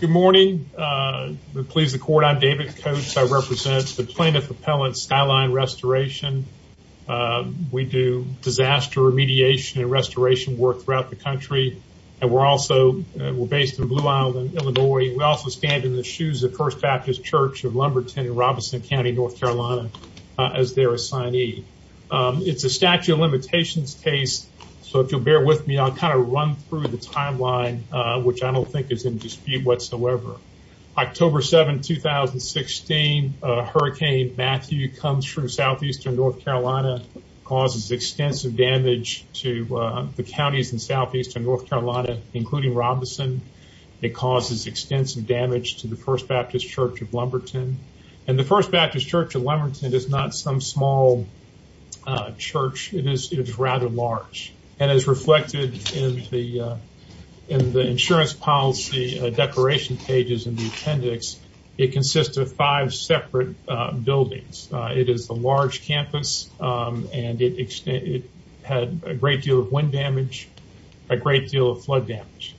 Good morning. Please, the court, I'm David Coates. I represent the plaintiff appellate Skyline Restoration. We do disaster remediation and restoration work throughout the country. And we're also, we're based in Blue Island, Illinois. We also stand in the shoes of First Baptist Church of Lumberton in Robeson County, North Carolina, as their assignee. It's a statute of limitations case. So if you'll bear with me, I'll kind of run through the timeline, which I don't think is in dispute whatsoever. October 7, 2016, Hurricane Matthew comes from southeastern North Carolina, causes extensive damage to the counties in southeastern North Carolina, including Robeson. It causes extensive damage to the First Baptist Church of Lumberton. And the First Baptist Church of Lumberton is not some small church. It is rather large. And as reflected in the insurance policy declaration pages in the appendix, it consists of five separate buildings. It is a large campus, and it had a great deal of wind damage, a great deal of flood damage.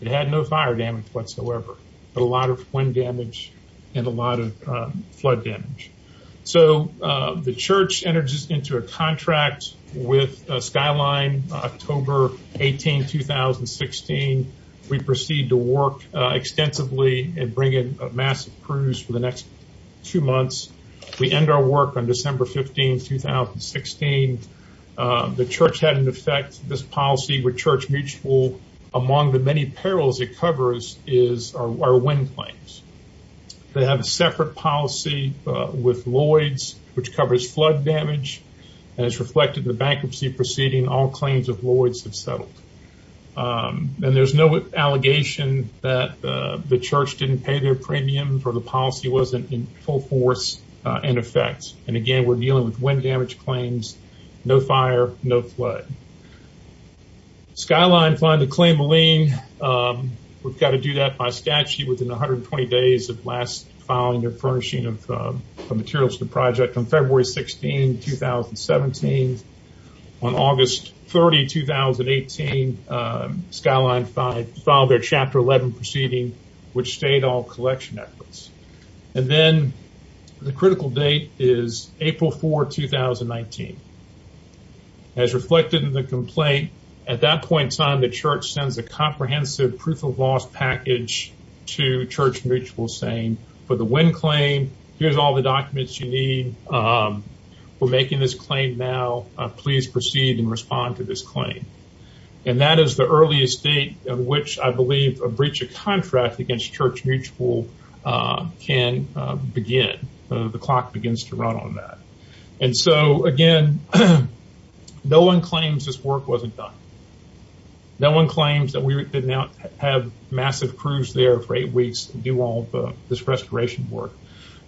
It had no fire damage whatsoever, but a lot of wind damage and a lot of flood damage. So the church enters into a contract with Skyline October 18, 2016. We proceed to work extensively and bring in a massive cruise for the next two months. We end our work on December 15, 2016. The church had an effect, this policy with church mutual among the perils it covers is our wind claims. They have a separate policy with Lloyds, which covers flood damage. As reflected in the bankruptcy proceeding, all claims of Lloyds have settled. And there's no allegation that the church didn't pay their premiums or the policy wasn't in full force in effect. And again, we're dealing with wind damage claims, no fire, no flood. Skyline filed a claim of lien. We've got to do that by statute within 120 days of last following their furnishing of materials to the project on February 16, 2017. On August 30, 2018, Skyline filed their Chapter 11 proceeding, which stayed all collection efforts. And then the critical date is April 4, 2019. As reflected in the complaint, at that point in time, the church sends a comprehensive proof of loss package to church mutual saying for the wind claim, here's all the documents you need. We're making this claim now, please proceed and respond to this claim. And that is the earliest date in which I believe a breach of contract against church mutual can begin. The clock begins to run on that. And so again, no one claims this work wasn't done. No one claims that we did not have massive crews there for eight weeks to do all this restoration work.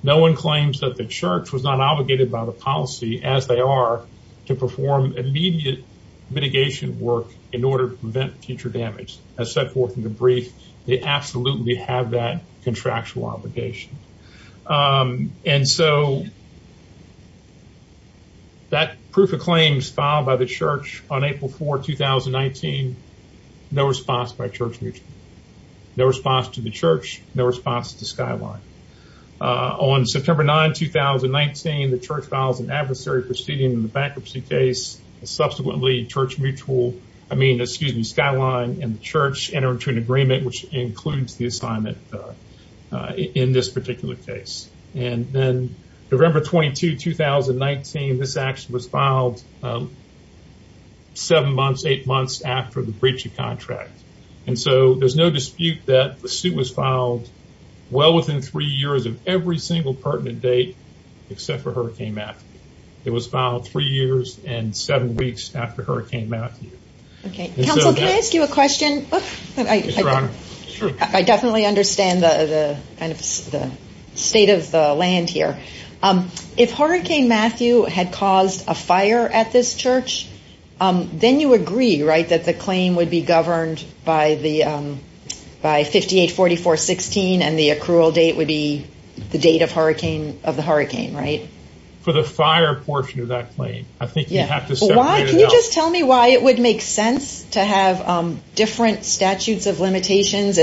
No one claims that the church was not obligated by the policy as they are to perform immediate mitigation work in order to prevent future damage. As set forth in the brief, they absolutely have that contractual obligation. And so that proof of claims filed by the church on April 4, 2019, no response by church mutual. No response to the church, no response to Skyline. On September 9, 2019, the church files an adversary proceeding in the bankruptcy case. Subsequently church mutual, I mean, excuse me, Skyline and includes the assignment in this particular case. And then November 22, 2019, this action was filed seven months, eight months after the breach of contract. And so there's no dispute that the suit was filed well within three years of every single pertinent date, except for Hurricane Matthew. It was filed three years and seven weeks after Hurricane Matthew. Okay. Can I ask you a question? I definitely understand the kind of state of the land here. If Hurricane Matthew had caused a fire at this church, then you agree, right, that the claim would be governed by 584416 and the accrual date would be the date of the hurricane, right? For the fire portion of that claim, I think you have to separate it out. Can you just tell me why it would make sense to have different statutes of limitations?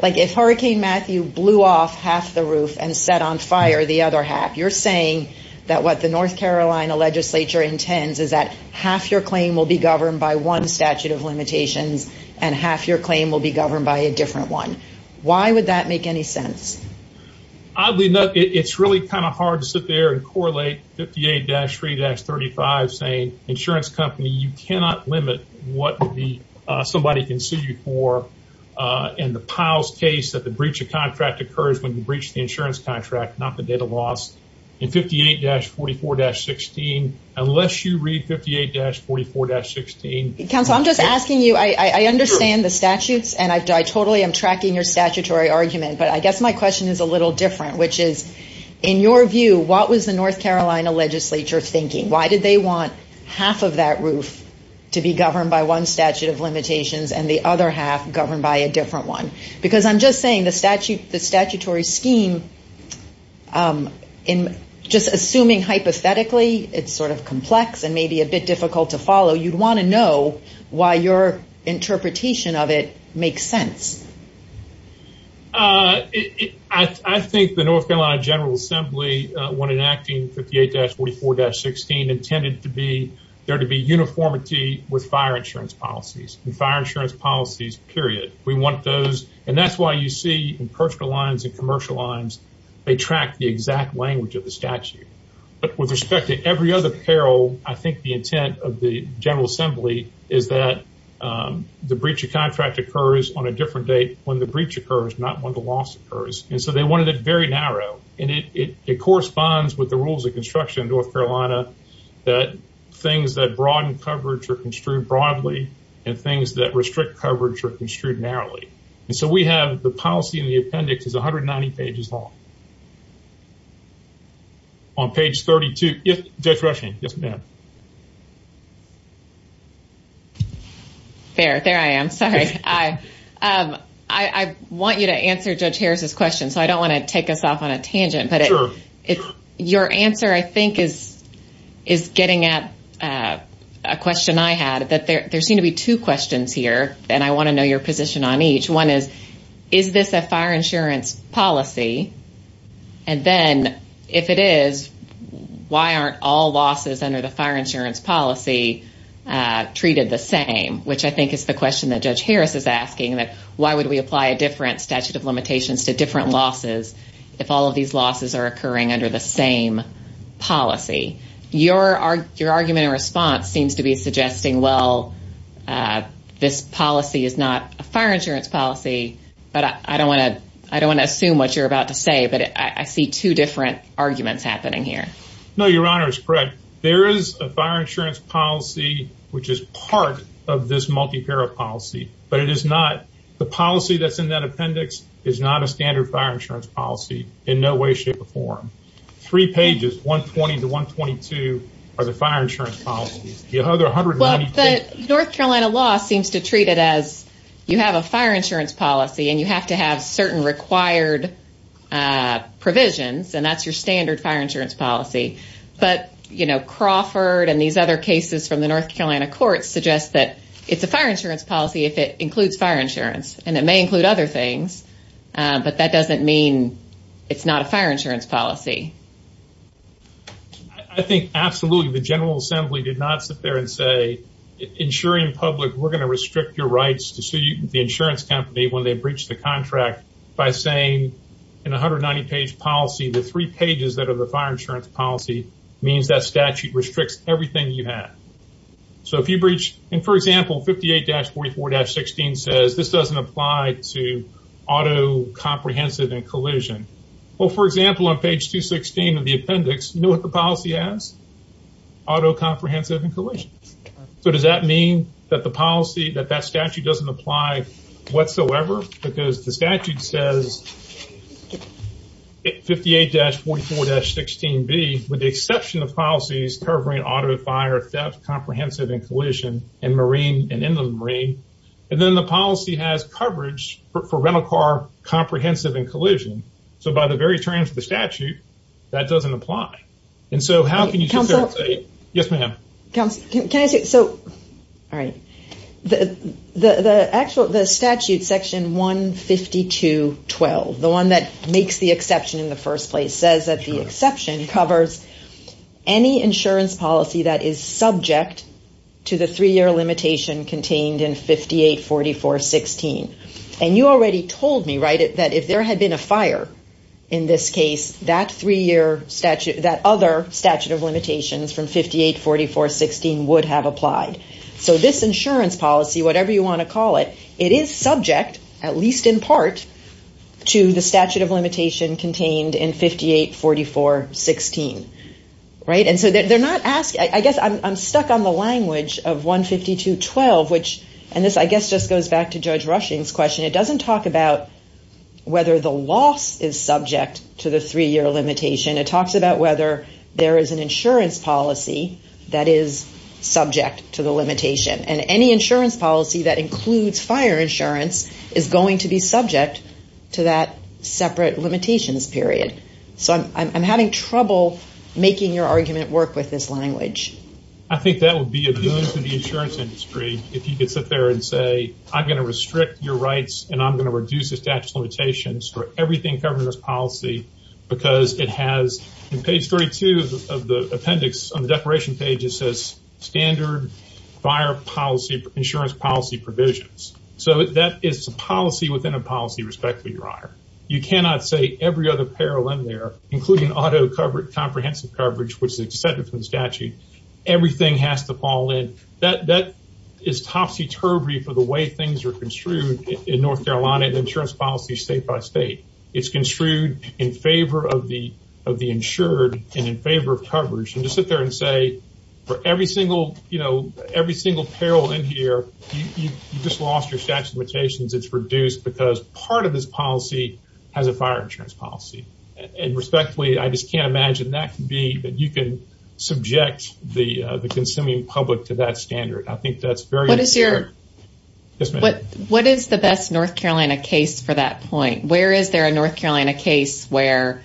Like if Hurricane Matthew blew off half the roof and set on fire the other half, you're saying that what the North Carolina legislature intends is that half your claim will be governed by one statute of limitations and half your claim will be governed by a different one. Why would that make any sense? Oddly enough, it's really kind of hard to sit there and correlate 58-3-35 saying insurance company, you cannot limit what somebody can sue you for in the Powell's case that the breach of contract occurs when you breach the insurance contract, not the data loss in 58-44-16 unless you read 58-44-16. Counsel, I'm just asking you, I understand the statutes, and I totally am tracking your statutory argument, but I guess my question is a little different, which is, in your view, what was the North Carolina legislature thinking? Why did they want half of that roof to be governed by one statute of limitations and the other half governed by a different one? Because I'm just saying the statutory scheme, just assuming hypothetically, it's sort of complex and maybe a bit difficult to follow, you'd want to know why your interpretation of it makes sense. I think the North Carolina General Assembly when enacting 58-44-16 intended there to be uniformity with fire insurance policies, and fire insurance policies, period. We want those, and that's why you see in personal lines and commercial lines, they track the exact language of the statute. But with respect to every other apparel, I think the intent of the General Assembly is that the breach of contract occurs on a different date when the breach occurs, not when the loss occurs. And so they wanted it very narrow, and it corresponds with the rules of construction in North Carolina that things that broaden coverage are construed broadly, and things that restrict coverage are construed narrowly. And so we have the policy in the appendix is 190 pages long. On page 32. Yes, Judge Rushing. Fair. There I am. Sorry. I want you to answer Judge Harris's question, so I don't want to take us off on a tangent. But your answer, I think, is getting at a question I had, that there seem to be two questions here, and I want to know your position on each. One is, is this a fire insurance policy? And then, if it is, why aren't all losses under the fire insurance policy treated the same? Which I think is the question that Judge Harris is asking, that would we apply a different statute of limitations to different losses, if all of these losses are occurring under the same policy? Your argument and response seems to be suggesting, well, this policy is not a fire insurance policy. But I don't want to assume what you're about to say. But I see two different arguments happening here. No, Your Honor is correct. There is a fire insurance policy. The policy that's in that appendix is not a standard fire insurance policy in no way shape or form. Three pages, 120 to 122, are the fire insurance policies. North Carolina law seems to treat it as you have a fire insurance policy, and you have to have certain required provisions, and that's your standard fire insurance policy. But, you know, Crawford and these other cases from the North Carolina courts suggest that it's a fire insurance policy if it includes fire insurance. And it may include other things. But that doesn't mean it's not a fire insurance policy. I think, absolutely, the General Assembly did not sit there and say, insuring public, we're going to restrict your rights to sue the insurance company when they breach the contract by saying in 190 page policy, the three pages that are the fire insurance policy means that statute restricts everything you have. So if you breach, and for example, 58-44-16 says this doesn't apply to auto comprehensive and collision. Well, for example, on page 216 of the appendix, you know what the policy has? Auto comprehensive and collision. So does that mean that the policy, that that statute doesn't apply whatsoever? Because the statute says 58-44-16b, with the exception of policies covering auto fire theft, comprehensive and collision and marine and in the marine. And then the policy has coverage for rental car comprehensive and collision. So by the very terms of the statute, that doesn't apply. And so how can you counsel? Yes, ma'am. Can I say so? All right. The actual the statute section 152-12, the one that makes the exception in the first place says that the exception covers any insurance policy that is subject to the three-year limitation contained in 58-44-16. And you already told me, right, that if there had been a fire in this case, that three-year statute, that other statute of limitations from 58-44-16 would have applied. So this insurance policy, whatever you want to call it, it is subject, at least in part, to the statute of limitation contained in 58-44-16. Right. And so they're not asking, I guess I'm stuck on the language of 152-12, which, and this, I guess, just goes back to Judge Rushing's question. It doesn't talk about whether the loss is subject to the three-year limitation. It talks about whether there is an insurance policy that is subject to the limitation. And any insurance policy that includes fire insurance is going to be subject to that separate limitations period. So I'm having trouble making your argument work with this language. I think that would be a boon to the insurance industry if you could sit there and say, I'm going to restrict your rights, and I'm going to reduce the statute of limitations for everything covering this policy because it has, in page 32 of the appendix on the declaration page, it says standard fire policy, insurance policy provisions. So that is a policy within a policy, respectfully, Your Honor. You cannot say every other peril in there, including auto comprehensive coverage, which is exempted from the statute, everything has to fall in. That is topsy-turvy for the way things are construed in North Carolina and insurance policy state by state. It's construed in favor of the insured and in favor of coverage. And just sit there and say, for every single peril in here, you just lost your statute of limitations. It's reduced because part of this policy has a fire insurance policy. And respectfully, I just can't imagine that could be that you can subject the consuming public to that standard. I think that's very... What is the best North Carolina case for that point? Where is there a North Carolina case where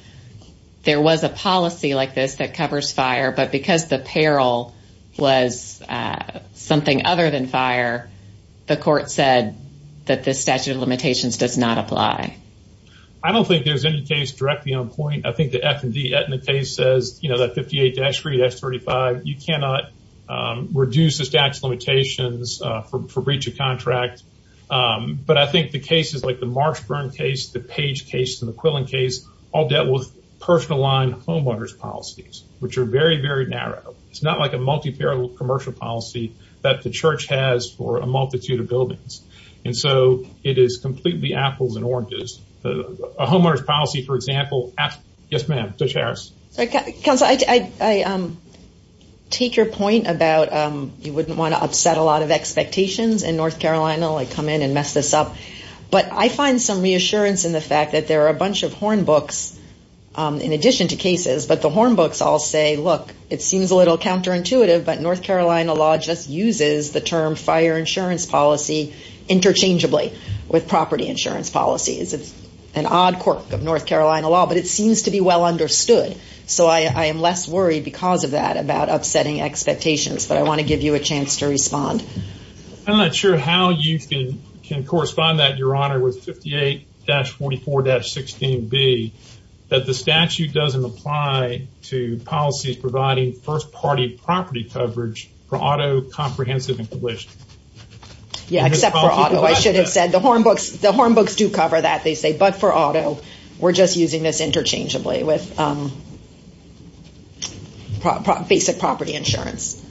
there was a policy like this that covers fire, but because the peril was something other than fire, the court said that the statute of limitations does not apply? I don't think there's any case directly on point. I think the F and D case says, you know, that 58-3, that's 35. You cannot reduce the statute of limitations for breach of contract. But I think the cases like the Marshburn case, the Page case and the Quillen case, all dealt with personal line homeowners policies, which are very, very narrow. It's not like a multi-parallel commercial policy that the church has for a multitude of buildings. And so it is completely apples and oranges. A homeowners policy, for example... Yes, ma'am. Judge Harris. Counsel, I take your point about you wouldn't want to upset a lot of expectations in North Carolina, like come in and mess this up. But I find some reassurance in the fact that there are a bunch of horn books in addition to cases, but the horn books all say, look, it seems a little counterintuitive, but North Carolina law just uses the term fire insurance policy interchangeably with property insurance policies. It's an odd quirk of North Carolina law, but it seems to be well understood. So I am less worried because of that about upsetting expectations, but I want to give you a chance to respond. I'm not sure how you can correspond that, Your Honor, with 58-44-16B, that the statute doesn't apply to policies providing first party property coverage for auto comprehensive and published. Yeah, except for auto. I should have said the horn books do cover that. They say, but for auto, we're just using this interchangeably with basic property insurance.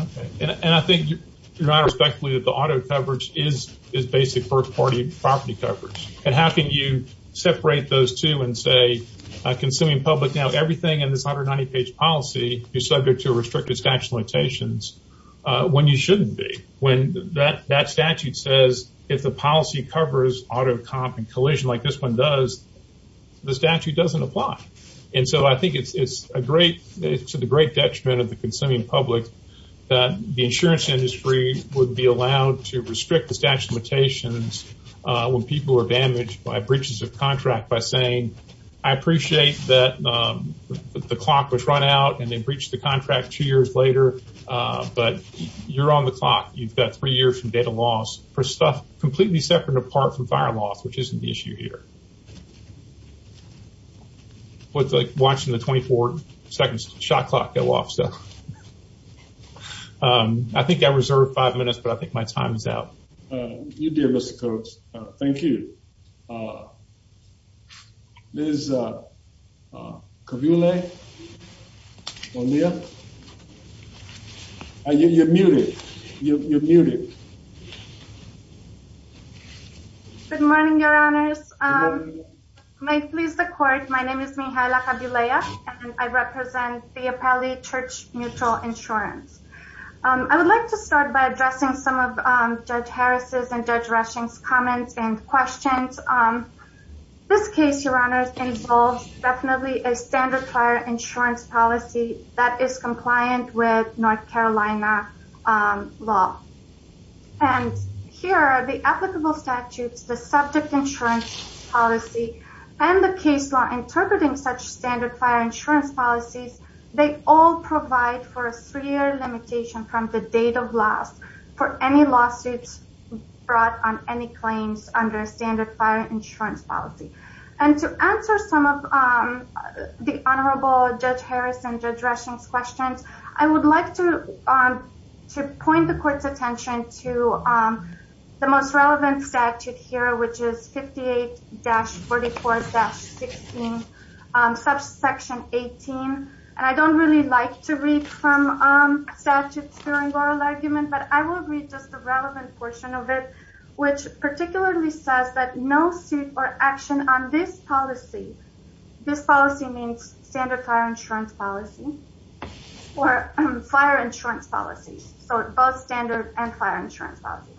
Okay. And I think, Your Honor, respectfully, that the auto coverage is basic first party property coverage. And how can you separate those two and say, consuming public now everything in this 190-page policy, you're subject to a restrictive statute of limitations, when you shouldn't be. When that statute says, if the policy covers auto comp and collision like this one does, the statute doesn't apply. And so I think it's to the great detriment of the consuming public that the insurance industry would be allowed to restrict the statute of limitations when people are damaged by breaches of contract by saying, I appreciate that the clock was run out and they breached the contract two years later, but you're on the clock. You've got three years from data loss for stuff completely separate and apart from fire loss, which isn't the issue here. It's like watching the 24 seconds shot clock go off. I think I reserved five minutes, but I think my time is out. You did, Mr. Coates. Thank you. Good morning, your honors. May it please the court, my name is Mihaela Kavulea, and I represent Theopali Church Mutual Insurance. I would like to start by addressing some of Judge this case, your honors involves definitely a standard fire insurance policy that is compliant with North Carolina law. And here are the applicable statutes, the subject insurance policy and the case law interpreting such standard fire insurance policies. They all provide for a three year limitation from the date of last for any lawsuits brought on any claims under standard insurance policy. And to answer some of the honorable Judge Harris and Judge Rushing's questions, I would like to point the court's attention to the most relevant statute here, which is 58-44-16 section 18. And I don't really like to read from statutes during oral argument, but I will read just the relevant portion of it, which particularly says that no suit or action on this policy, this policy means standard fire insurance policy or fire insurance policies. So both standard and fire insurance policy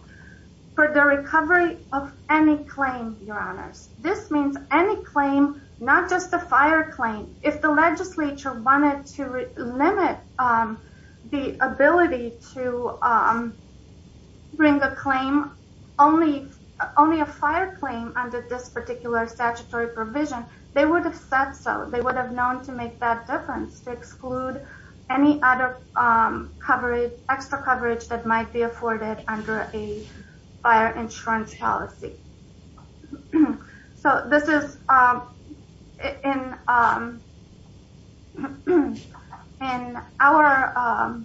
for the recovery of any claim, your honors, this means any claim, not just the fire claim. If the legislature wanted to limit the ability to bring a claim, only a fire claim under this particular statutory provision, they would have said so. They would have known to make that difference to exclude any other coverage, extra coverage that might be afforded under a fire insurance policy. So this is in our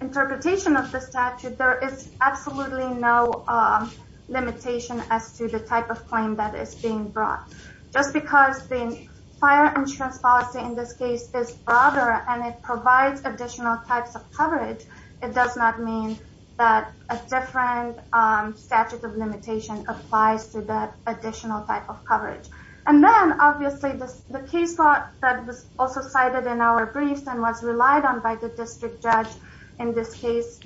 interpretation of the statute, there is absolutely no limitation as to the type of claim that is being brought. Just because the fire insurance policy in this case is broader and it provides additional types of coverage, it does not mean that a different statute of applies to that additional type of coverage. And then obviously the case that was also cited in our briefs and was relied on by the district judge in this case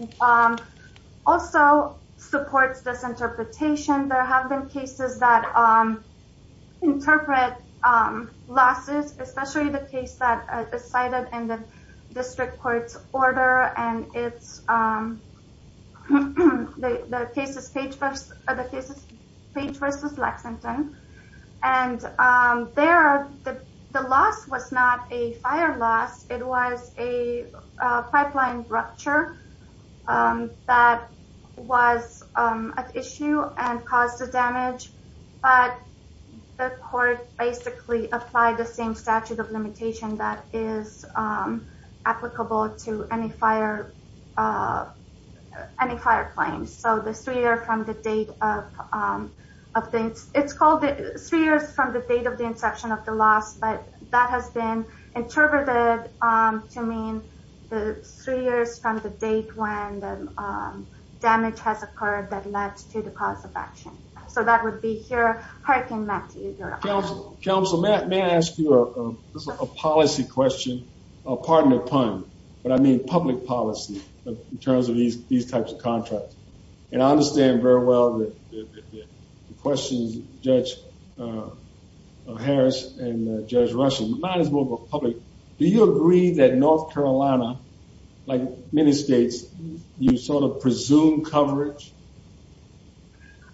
also supports this interpretation. There have been cases that interpret losses, especially the case that is cited in the Page v. Lexington. And there, the loss was not a fire loss, it was a pipeline rupture that was an issue and caused the damage, but the court basically applied the same statute of limitation that is applicable to any fire claims. So the three years from the date of the inception of the loss, but that has been interpreted to mean the three years from the date when the damage has occurred that led to the cause of action. So that would be here. Counsel, may I ask you a policy question? Pardon the pun, but I mean public policy in terms of these types of contracts. And I understand very well the questions of Judge Harris and Judge Rushen. We might as well go public. Do you agree that North Carolina, like many states, you sort of presume coverage?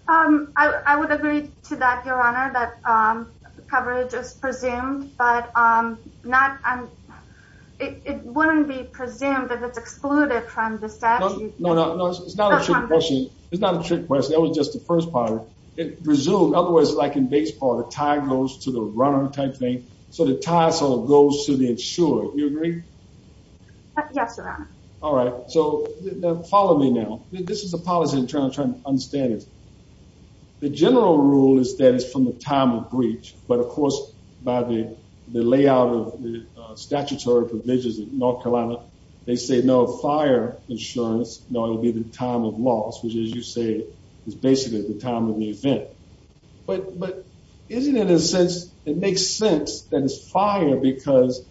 I would agree to that, Your Honor, that coverage is presumed, but it wouldn't be presumed that it's excluded from the statute. No, no, it's not a trick question. It's not a trick question. That was just the first part. It presumed, otherwise like in baseball, the tie goes to the runner type thing. So the tie sort of goes to the insurer. Do you agree? Yes, Your Honor. All right. So follow me now. This is a policy in terms of trying to understand it. The general rule is that it's from the time of breach. But of course, by the layout of the statutory provisions of North Carolina, they say no fire insurance. No, it'll be the time of loss, which as you say, is basically the time of the event. But isn't it in a sense, it makes sense that it's fire because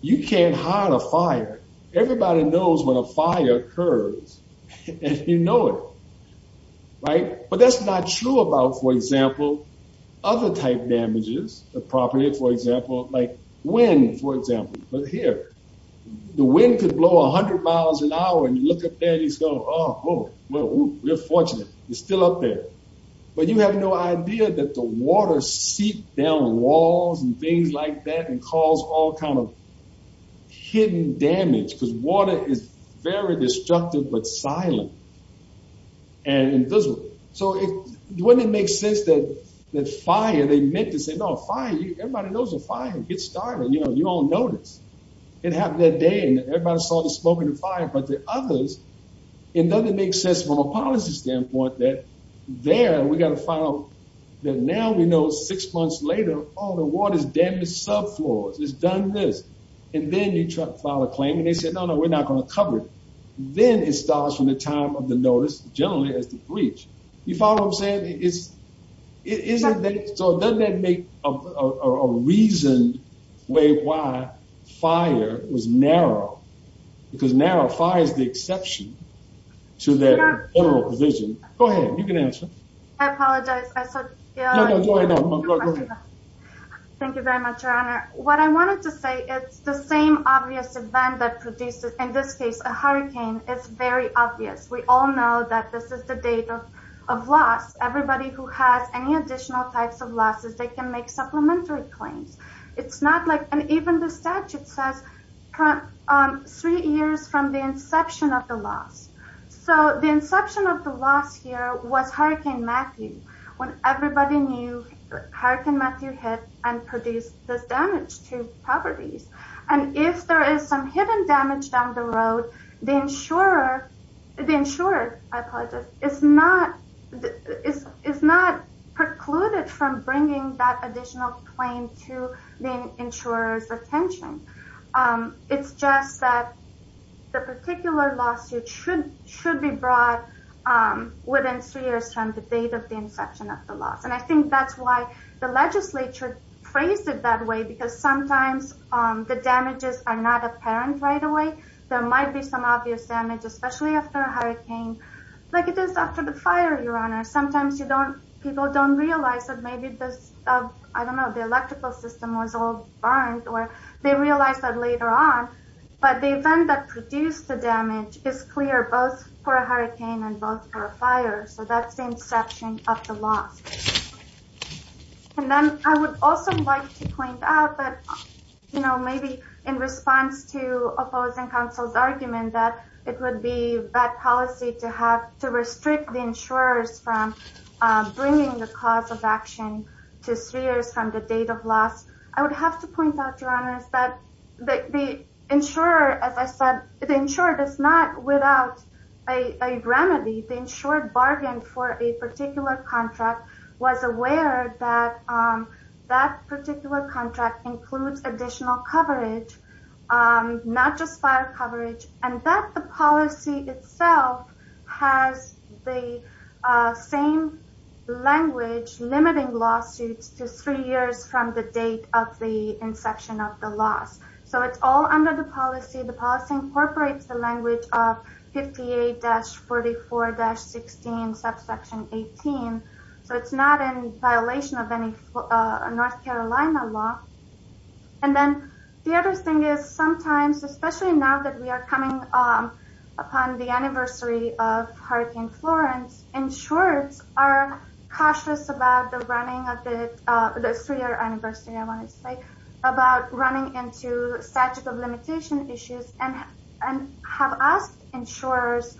you can't hide a fire. Everybody knows when a fire occurs and you know it. But that's not true about, for example, other type damages, the property, for example, like wind, for example. But here, the wind could blow a hundred miles an hour and you look up there and you go, oh, we're fortunate. You're still up there. But you have no idea that the water seeped down walls and things like that and caused all kind of hidden damage because water is very destructive, but silent and invisible. So wouldn't it make sense that the fire, they meant to say, no fire, everybody knows a fire, get started. You know, you all know this. It happened that day and everybody saw the smoke and the fire, but the others, it doesn't make sense from a policy standpoint that there we got to find out that now we know six months later, all the water's damaged sub floors. It's done this. And then you try to file a claim and they said, no, no, we're not going to cover it. Then it starts from the time of the notice, generally as the breach. You follow what I'm saying? So doesn't that make a reason way why fire was narrow because narrow fire is the exception to that federal provision. Go ahead. You can answer. I apologize. I said, go ahead. Thank you very much, Your Honor. What I wanted to say, it's the same obvious event that produces, in this case, a hurricane. It's very obvious. We all know that this is the date of loss. Everybody who has any additional types of losses, they can make supplementary claims. It's not like, and even the statute says three years from the inception of the loss. So the inception of the loss here was Hurricane Matthew. When everybody knew Hurricane Matthew hit and produced this damage to properties. And if there is some hidden damage down the road, the insurer, I apologize, is not precluded from bringing that additional claim to insurer's attention. It's just that the particular lawsuit should be brought within three years from the date of the inception of the loss. And I think that's why the legislature phrased it that way, because sometimes the damages are not apparent right away. There might be some obvious damage, especially after a hurricane, like it is after the fire, Your Honor. Sometimes people don't realize that maybe, I don't know, the electrical system was all burned, or they realize that later on. But the event that produced the damage is clear, both for a hurricane and both for a fire. So that's the inception of the loss. And then I would also like to point out that, you know, maybe in response to opposing counsel's argument that it would be bad policy to restrict the cause of action to three years from the date of loss, I would have to point out, Your Honor, is that the insurer, as I said, the insurer does not, without a remedy, the insurer bargained for a particular contract, was aware that that particular contract includes additional coverage, not just fire coverage, and that the policy itself has the same language limiting lawsuits to three years from the date of the inception of the loss. So it's all under the policy. The policy incorporates the language of 58-44-16, subsection 18. So it's not in violation of any North Carolina law. And then the other thing is sometimes, especially now that we are coming upon the anniversary of Hurricane Florence, insurers are cautious about the running of the three-year anniversary, I wanted to say, about running into statute of limitation issues and have asked insurers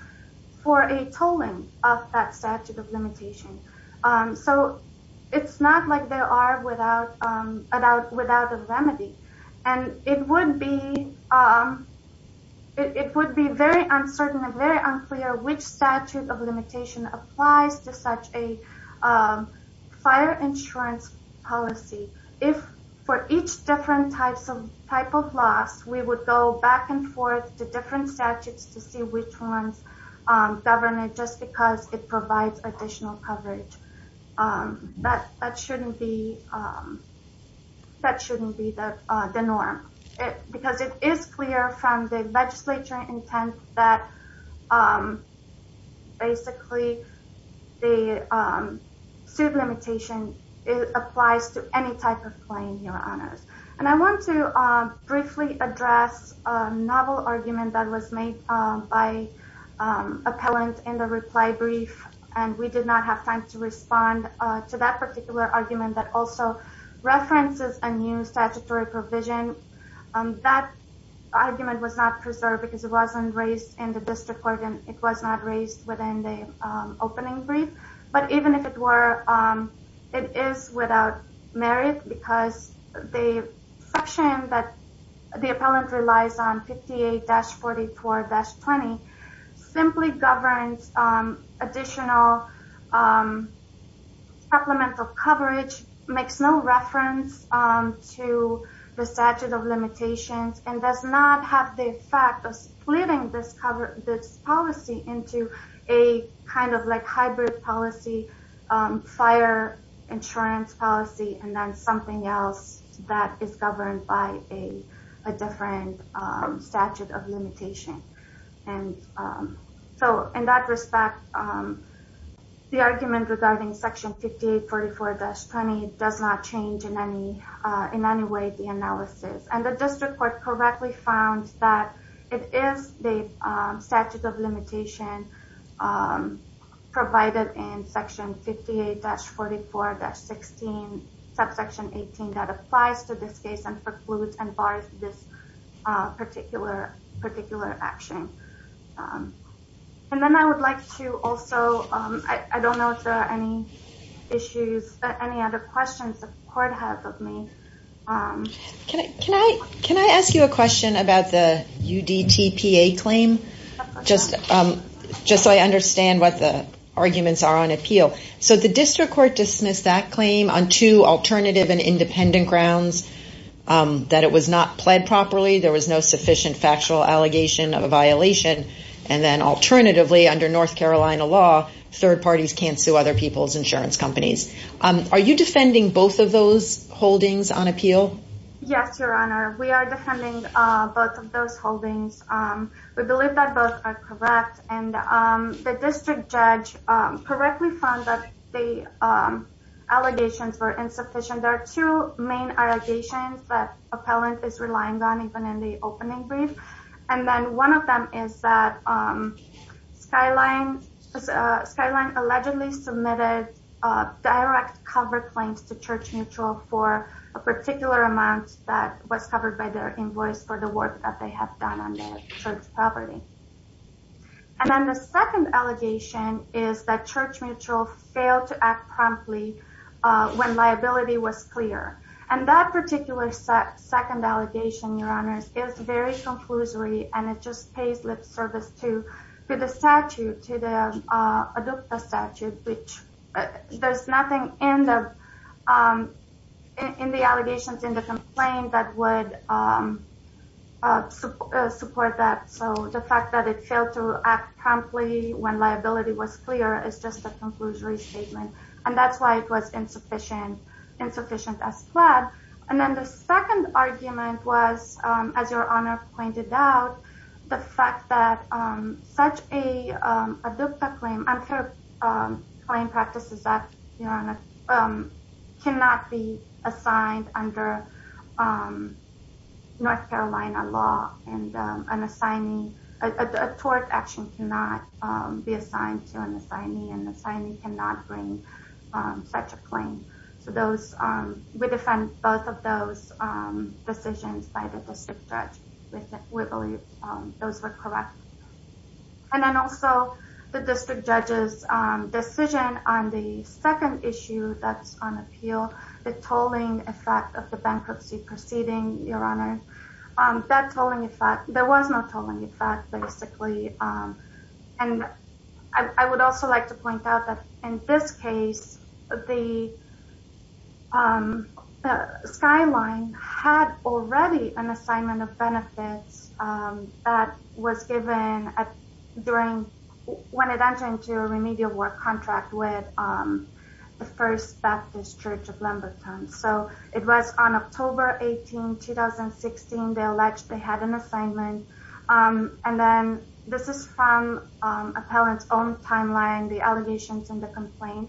for a tolling of that statute of limitation. So it's not like they are without a remedy. And it would be very uncertain and very unclear which statute of limitation applies to such a fire insurance policy. If for each different type of loss, we would go back and forth to different statutes to see which ones govern it, just because it provides additional coverage, that shouldn't be the norm. Because it is clear from the legislature intent that basically the suit limitation applies to any type of claim, Your Honors. And I want to address a novel argument that was made by an appellant in the reply brief and we did not have time to respond to that particular argument that also references a new statutory provision. That argument was not preserved because it wasn't raised in the district court and it was not raised within the opening brief. But even if it were, it is without merit because the section that the appellant relies on, 58-44-20, simply governs additional supplemental coverage, makes no reference to the statute of limitations, and does not have the effect of splitting this policy into a kind of like hybrid policy, fire insurance policy, and then something else that is governed by a different statute of limitation. And so in that respect, the argument regarding section 58-44-20 does not change in any way the analysis. And the district court correctly found that it is the statute of limitation provided in section 58-44-16, subsection 18 that applies to precludes and bars this particular action. And then I would like to also, I don't know if there are any issues, any other questions the court has of me. Can I ask you a question about the UDTPA claim? Just so I understand what the arguments are on appeal. So the district court dismissed that it was not pled properly. There was no sufficient factual allegation of a violation. And then alternatively, under North Carolina law, third parties can't sue other people's insurance companies. Are you defending both of those holdings on appeal? Yes, Your Honor. We are defending both of those holdings. We believe that both are correct. And the district judge correctly found that the allegations were insufficient. There are two main allegations that appellant is relying on even in the opening brief. And then one of them is that Skyline allegedly submitted direct cover claims to Church Mutual for a particular amount that was covered by their invoice for the work that they have done on the church property. And then the second allegation is that Church Mutual failed to act promptly when liability was clear. And that particular second allegation, Your Honors, is very conclusory and it just pays lip service to the statute, to the UDTPA statute, which there's nothing in the allegations in the complaint that would support that. So the fact that it failed to act promptly when liability was clear is just a conclusory statement. And that's why it was insufficient as pled. And then the second argument was, as Your Honor pointed out, the fact that such a UDTPA claim, unfair claim practices act, Your Honor, cannot be assigned under North Carolina law and an assignee, a tort action cannot be assigned to an assignee and the assignee cannot bring such a claim. So we defend both of those decisions by the district judge. We believe those were correct. And then also the district judge's decision on the second issue that's on appeal, the tolling effect of the bankruptcy proceeding, Your Honor, that tolling effect, there was no tolling effect basically. And I would also like to point out that in this case, the skyline had already an assignment of benefits that was given during, when it entered into a remedial work contract with the First Baptist Church of Lamberton. So it was on October 18, 2016, they alleged they had an assignment. And then this is from appellant's own timeline, the allegations and the complaint.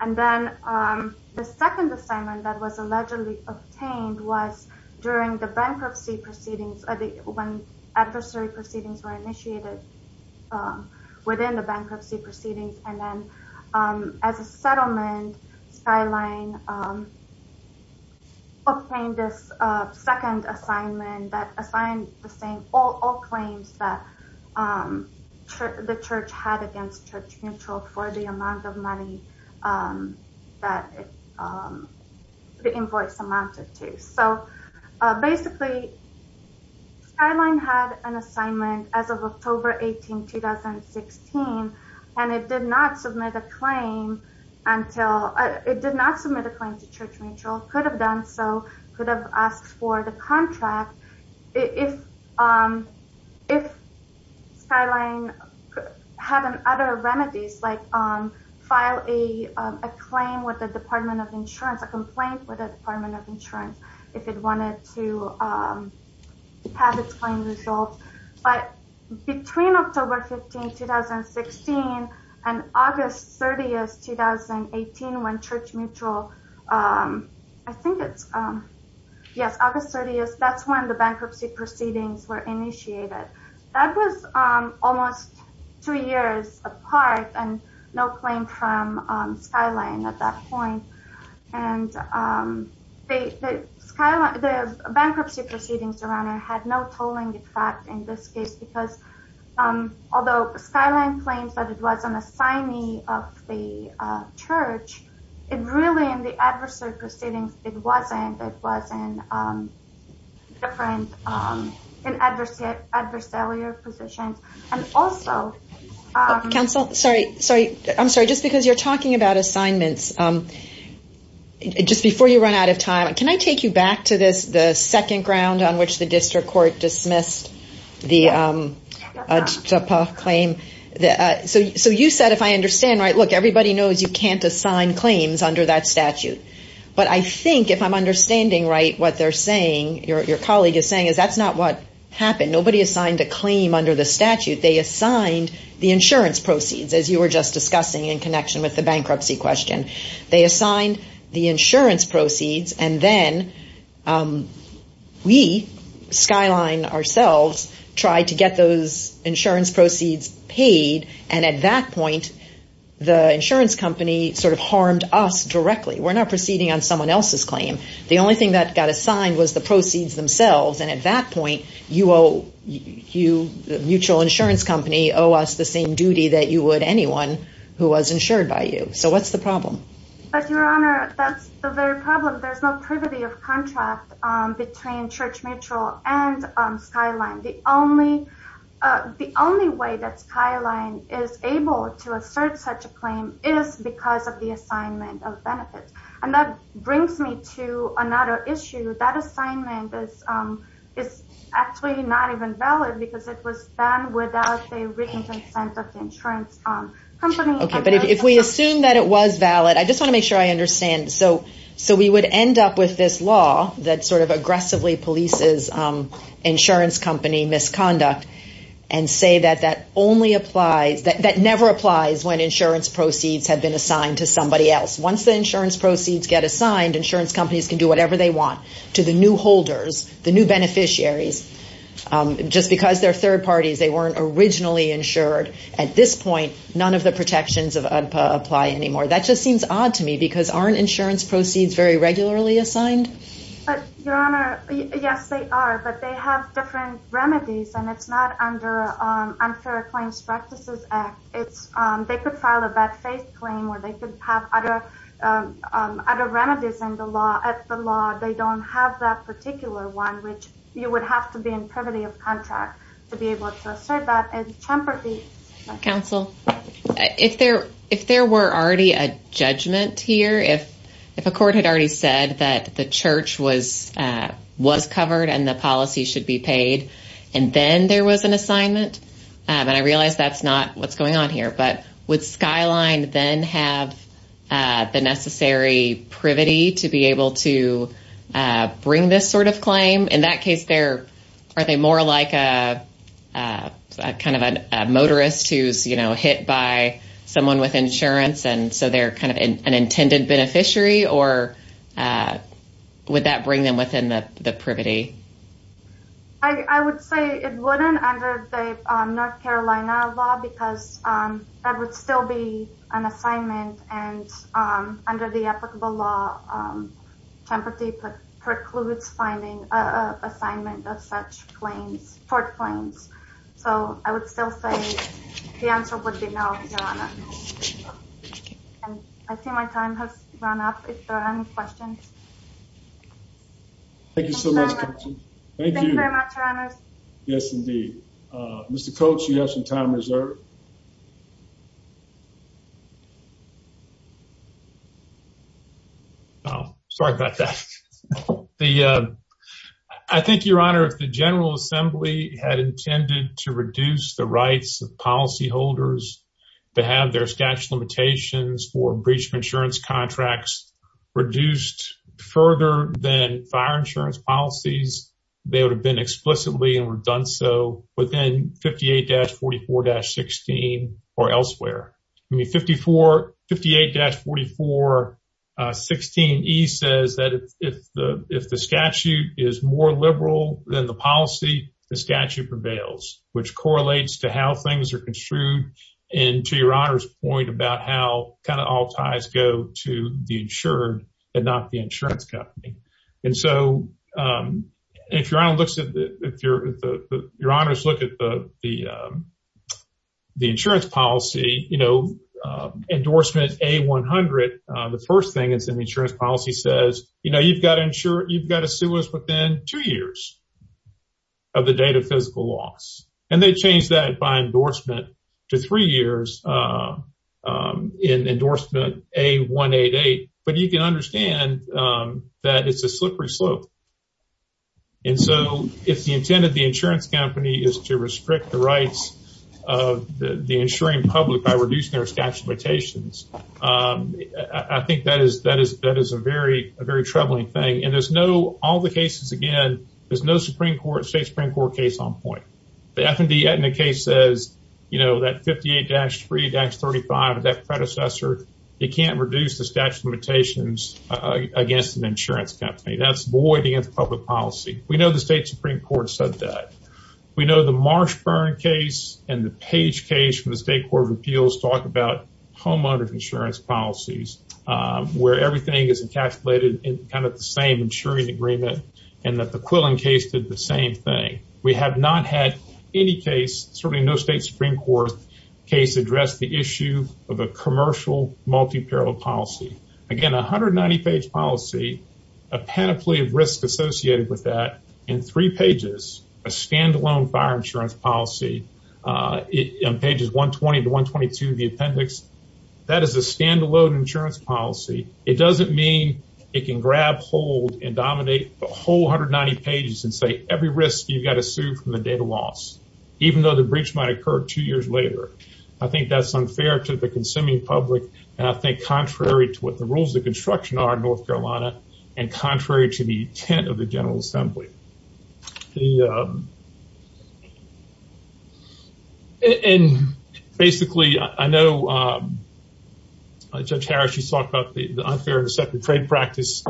And then the second assignment that was allegedly obtained was during the bankruptcy proceedings, when adversary proceedings were initiated within the bankruptcy proceedings. And then as a settlement, skyline obtained this second assignment that assigned the same, all claims that the church had against Church Mutual for the amount of money that the invoice amounted to. So basically skyline had an assignment as of October 18, 2016, and it did not submit a claim until, it did not submit a claim to Church Mutual, could have done so, could have asked for the skyline had an other remedies, like file a claim with the Department of Insurance, a complaint with the Department of Insurance, if it wanted to have its claim resolved. But between October 15, 2016 and August 30th, 2018, when Church Mutual, I think it's, yes, August 30th, that's when the bankruptcy proceedings were initiated. That was almost two years apart and no claim from skyline at that point. And the bankruptcy proceedings around there had no tolling effect in this case, because although skyline claims that it was an assignee of the church, it really, in the adversary proceedings, it wasn't, it was in different, in adversarial positions. And also... Counsel, sorry, sorry, I'm sorry, just because you're talking about assignments. Just before you run out of time, can I take you back to this, the second ground on which the everybody knows you can't assign claims under that statute. But I think if I'm understanding right, what they're saying, your colleague is saying, is that's not what happened. Nobody assigned a claim under the statute. They assigned the insurance proceeds, as you were just discussing in connection with the bankruptcy question. They assigned the insurance proceeds and then we, skyline ourselves, tried to get those insurance proceeds paid. And at that point, the insurance company sort of harmed us directly. We're not proceeding on someone else's claim. The only thing that got assigned was the proceeds themselves. And at that point, you owe, you, the mutual insurance company owe us the same duty that you would anyone who was insured by you. So what's the problem? But your honor, that's the very problem. There's no privity of contract between Church Mutual and skyline. The only way that skyline is able to assert such a claim is because of the assignment of benefits. And that brings me to another issue, that assignment is actually not even valid because it was done without the written consent of the insurance company. Okay, but if we assume that it was valid, I just want to make sure I with this law that sort of aggressively polices insurance company misconduct and say that that only applies, that never applies when insurance proceeds have been assigned to somebody else. Once the insurance proceeds get assigned, insurance companies can do whatever they want to the new holders, the new beneficiaries. Just because they're third parties, they weren't originally insured. At this point, none of the protections of UDPA apply anymore. That just But your honor, yes, they are, but they have different remedies. And it's not under unfair claims practices act. It's they could file a bad faith claim or they could have other other remedies in the law at the law, they don't have that particular one, which you would have to be in privity of contract to be able to assert that and temper the counsel. If there if there were already a judgment here, if, if a court had already said that the church was, was covered, and the policy should be paid, and then there was an assignment. And I realized that's not what's going on here. But with skyline then have the necessary privity to be able to bring this sort of claim. In that case, there are they more like a kind of a motorist who's you know, hit by someone with insurance. And so they're kind of an intended beneficiary, or would that bring them within the the privity? I would say it wouldn't under the North Carolina law, because that would still be an assignment. And under the applicable law, temper the precludes finding a assignment of such claims for claims. So I would still say the answer would be no. I see my time has run up. If there are any questions. Thank you so much. Thank you. Yes, indeed. Mr. Coach, you have some time General Assembly had intended to reduce the rights of policyholders to have their statute limitations for breach of insurance contracts reduced further than fire insurance policies. They would have been explicitly and were done. So within 58 dash 44 dash 16, or elsewhere, I mean, 54 58 dash 44 16. He says that if the if the statute is more liberal than the policy, the statute prevails, which correlates to how things are construed into your honor's point about how kind of all ties go to the insured and not the insurance company. And so if you're on your honor's look at the the insurance policy, you know, endorsement a 100. The first thing is in the insurance policy says, you know, you've got to ensure you've got to sue us within two years of the date of physical loss. And they change that by endorsement to three years in endorsement a 188. But you can understand that it's a slippery slope. And so if the intent of the insurance company is to restrict the rights of the insuring public by reducing their statute limitations, I think that is that is that is a very, a very troubling thing. And there's no all the cases. Again, there's no Supreme Court State Supreme Court case on point. The F&D case says, you know, that 58 dash three dash 35, that predecessor, you can't reduce the statute limitations against an insurance company. That's public policy. We know the state Supreme Court said that. We know the Marshburn case and the page case from the State Court of Appeals talk about homeowners insurance policies, where everything is encapsulated in kind of the same insuring agreement, and that the Quillen case did the same thing. We have not had any case, certainly no state Supreme Court case addressed the issue of a commercial multi parallel policy. Again, 190 page policy, a panoply of risk associated with that in three pages, a standalone fire insurance policy on pages 120 to 122 of the appendix. That is a standalone insurance policy. It doesn't mean it can grab hold and dominate the whole 190 pages and say every risk you've got to sue from the date of loss, even though the breach might occur two years later. I think that's unfair to the consuming public. And I think contrary to what the rules of construction are in North Carolina, and contrary to the intent of the General Assembly. And basically, I know, Judge Harris, you talked about the unfair and deceptive trade practice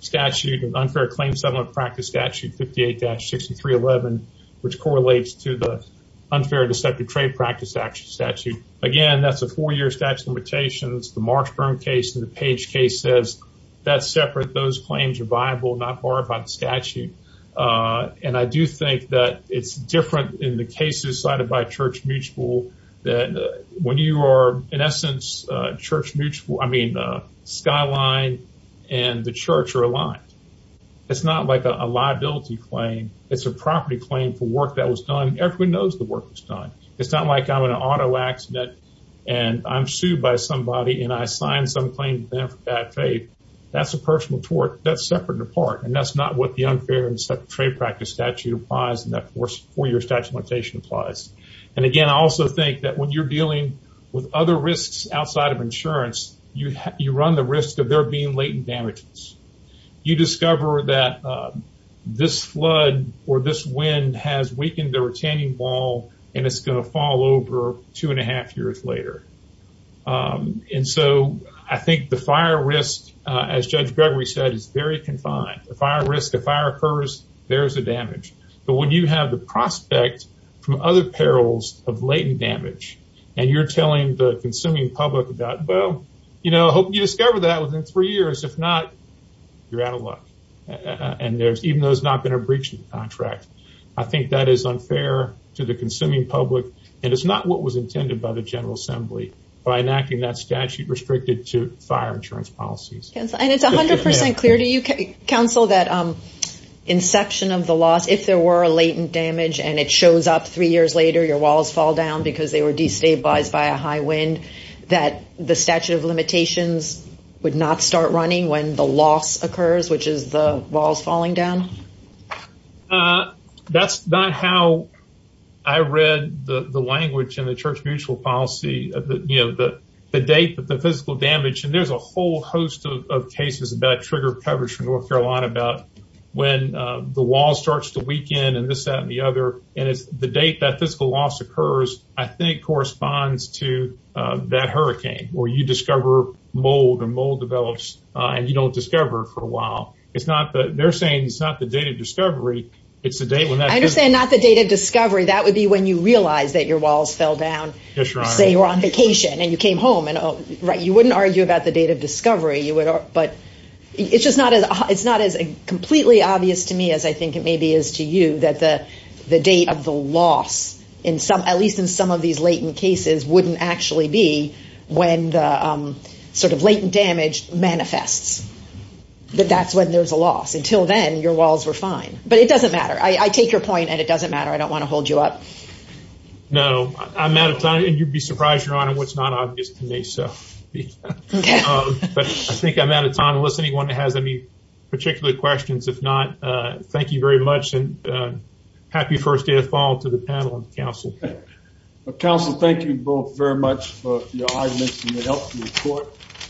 statute and unfair claim settlement practice statute 58-6311, which correlates to the unfair deceptive trade practice statute. Again, that's a four year statute limitations, the Marks Burn case and the Page case says, that's separate, those claims are viable, not barred by the statute. And I do think that it's different in the cases cited by Church Mutual, that when you are in essence, Church Mutual, I mean, Skyline, and the church are aligned. It's not like a liability claim. It's a property claim for work that was done. Everybody knows the work was done. It's not like I'm in an auto accident, and I'm sued by somebody and I signed some claim for bad faith. That's a personal tort, that's separate and apart. And that's not what the unfair and trade practice statute applies. And that four year statute limitation applies. And again, I also think that when you're dealing with other risks outside of insurance, you run the risk of there being latent damages. You discover that this flood or this wind has weakened the retaining wall, and it's going to fall over two and a half years later. And so I think the fire risk, as Judge Gregory said, is very confined. The fire risk, the fire occurs, there's a damage. But when you have the prospect from other perils of latent damage, and you're telling the consuming public about, well, you know, hope you discover that within three years, if not, you're out of breach of the contract. I think that is unfair to the consuming public. And it's not what was intended by the General Assembly, by enacting that statute restricted to fire insurance policies. And it's 100% clear to you, counsel, that inception of the loss, if there were a latent damage, and it shows up three years later, your walls fall down because they were destabilized by a high wind, that the statute of limitations would not start running when the loss occurs, which is the walls falling down. That's not how I read the language in the Church Mutual policy, you know, the date that the physical damage, and there's a whole host of cases about trigger coverage from North Carolina about when the wall starts to weaken, and this, that, and the other. And it's the date that physical loss occurs, I think, corresponds to that hurricane, where you discover mold and mold develops, and you don't discover it for a while. It's not that they're saying it's not the date of discovery. It's the date when that I understand, not the date of discovery, that would be when you realize that your walls fell down, say you're on vacation, and you came home and right, you wouldn't argue about the date of discovery you would, but it's just not as it's not as completely obvious to me as I think it in some, at least in some of these latent cases, wouldn't actually be when the sort of latent damage manifests, that that's when there's a loss. Until then, your walls were fine, but it doesn't matter. I take your point, and it doesn't matter. I don't want to hold you up. No, I'm out of time, and you'd be surprised, Your Honor, what's not obvious to me, so but I think I'm out of time, unless anyone has any particular questions. If not, thank you very much, and happy first day of fall to the panel and counsel. Counsel, thank you both very much for your arguments and your help to the court.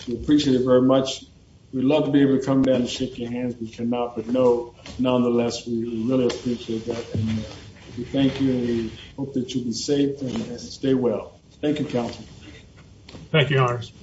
We appreciate it very much. We'd love to be able to come down and shake your hands. We cannot, but nonetheless, we really appreciate that, and we thank you, and we hope that you'll be safe and stay well. Thank you, counsel. Thank you, Your Honor.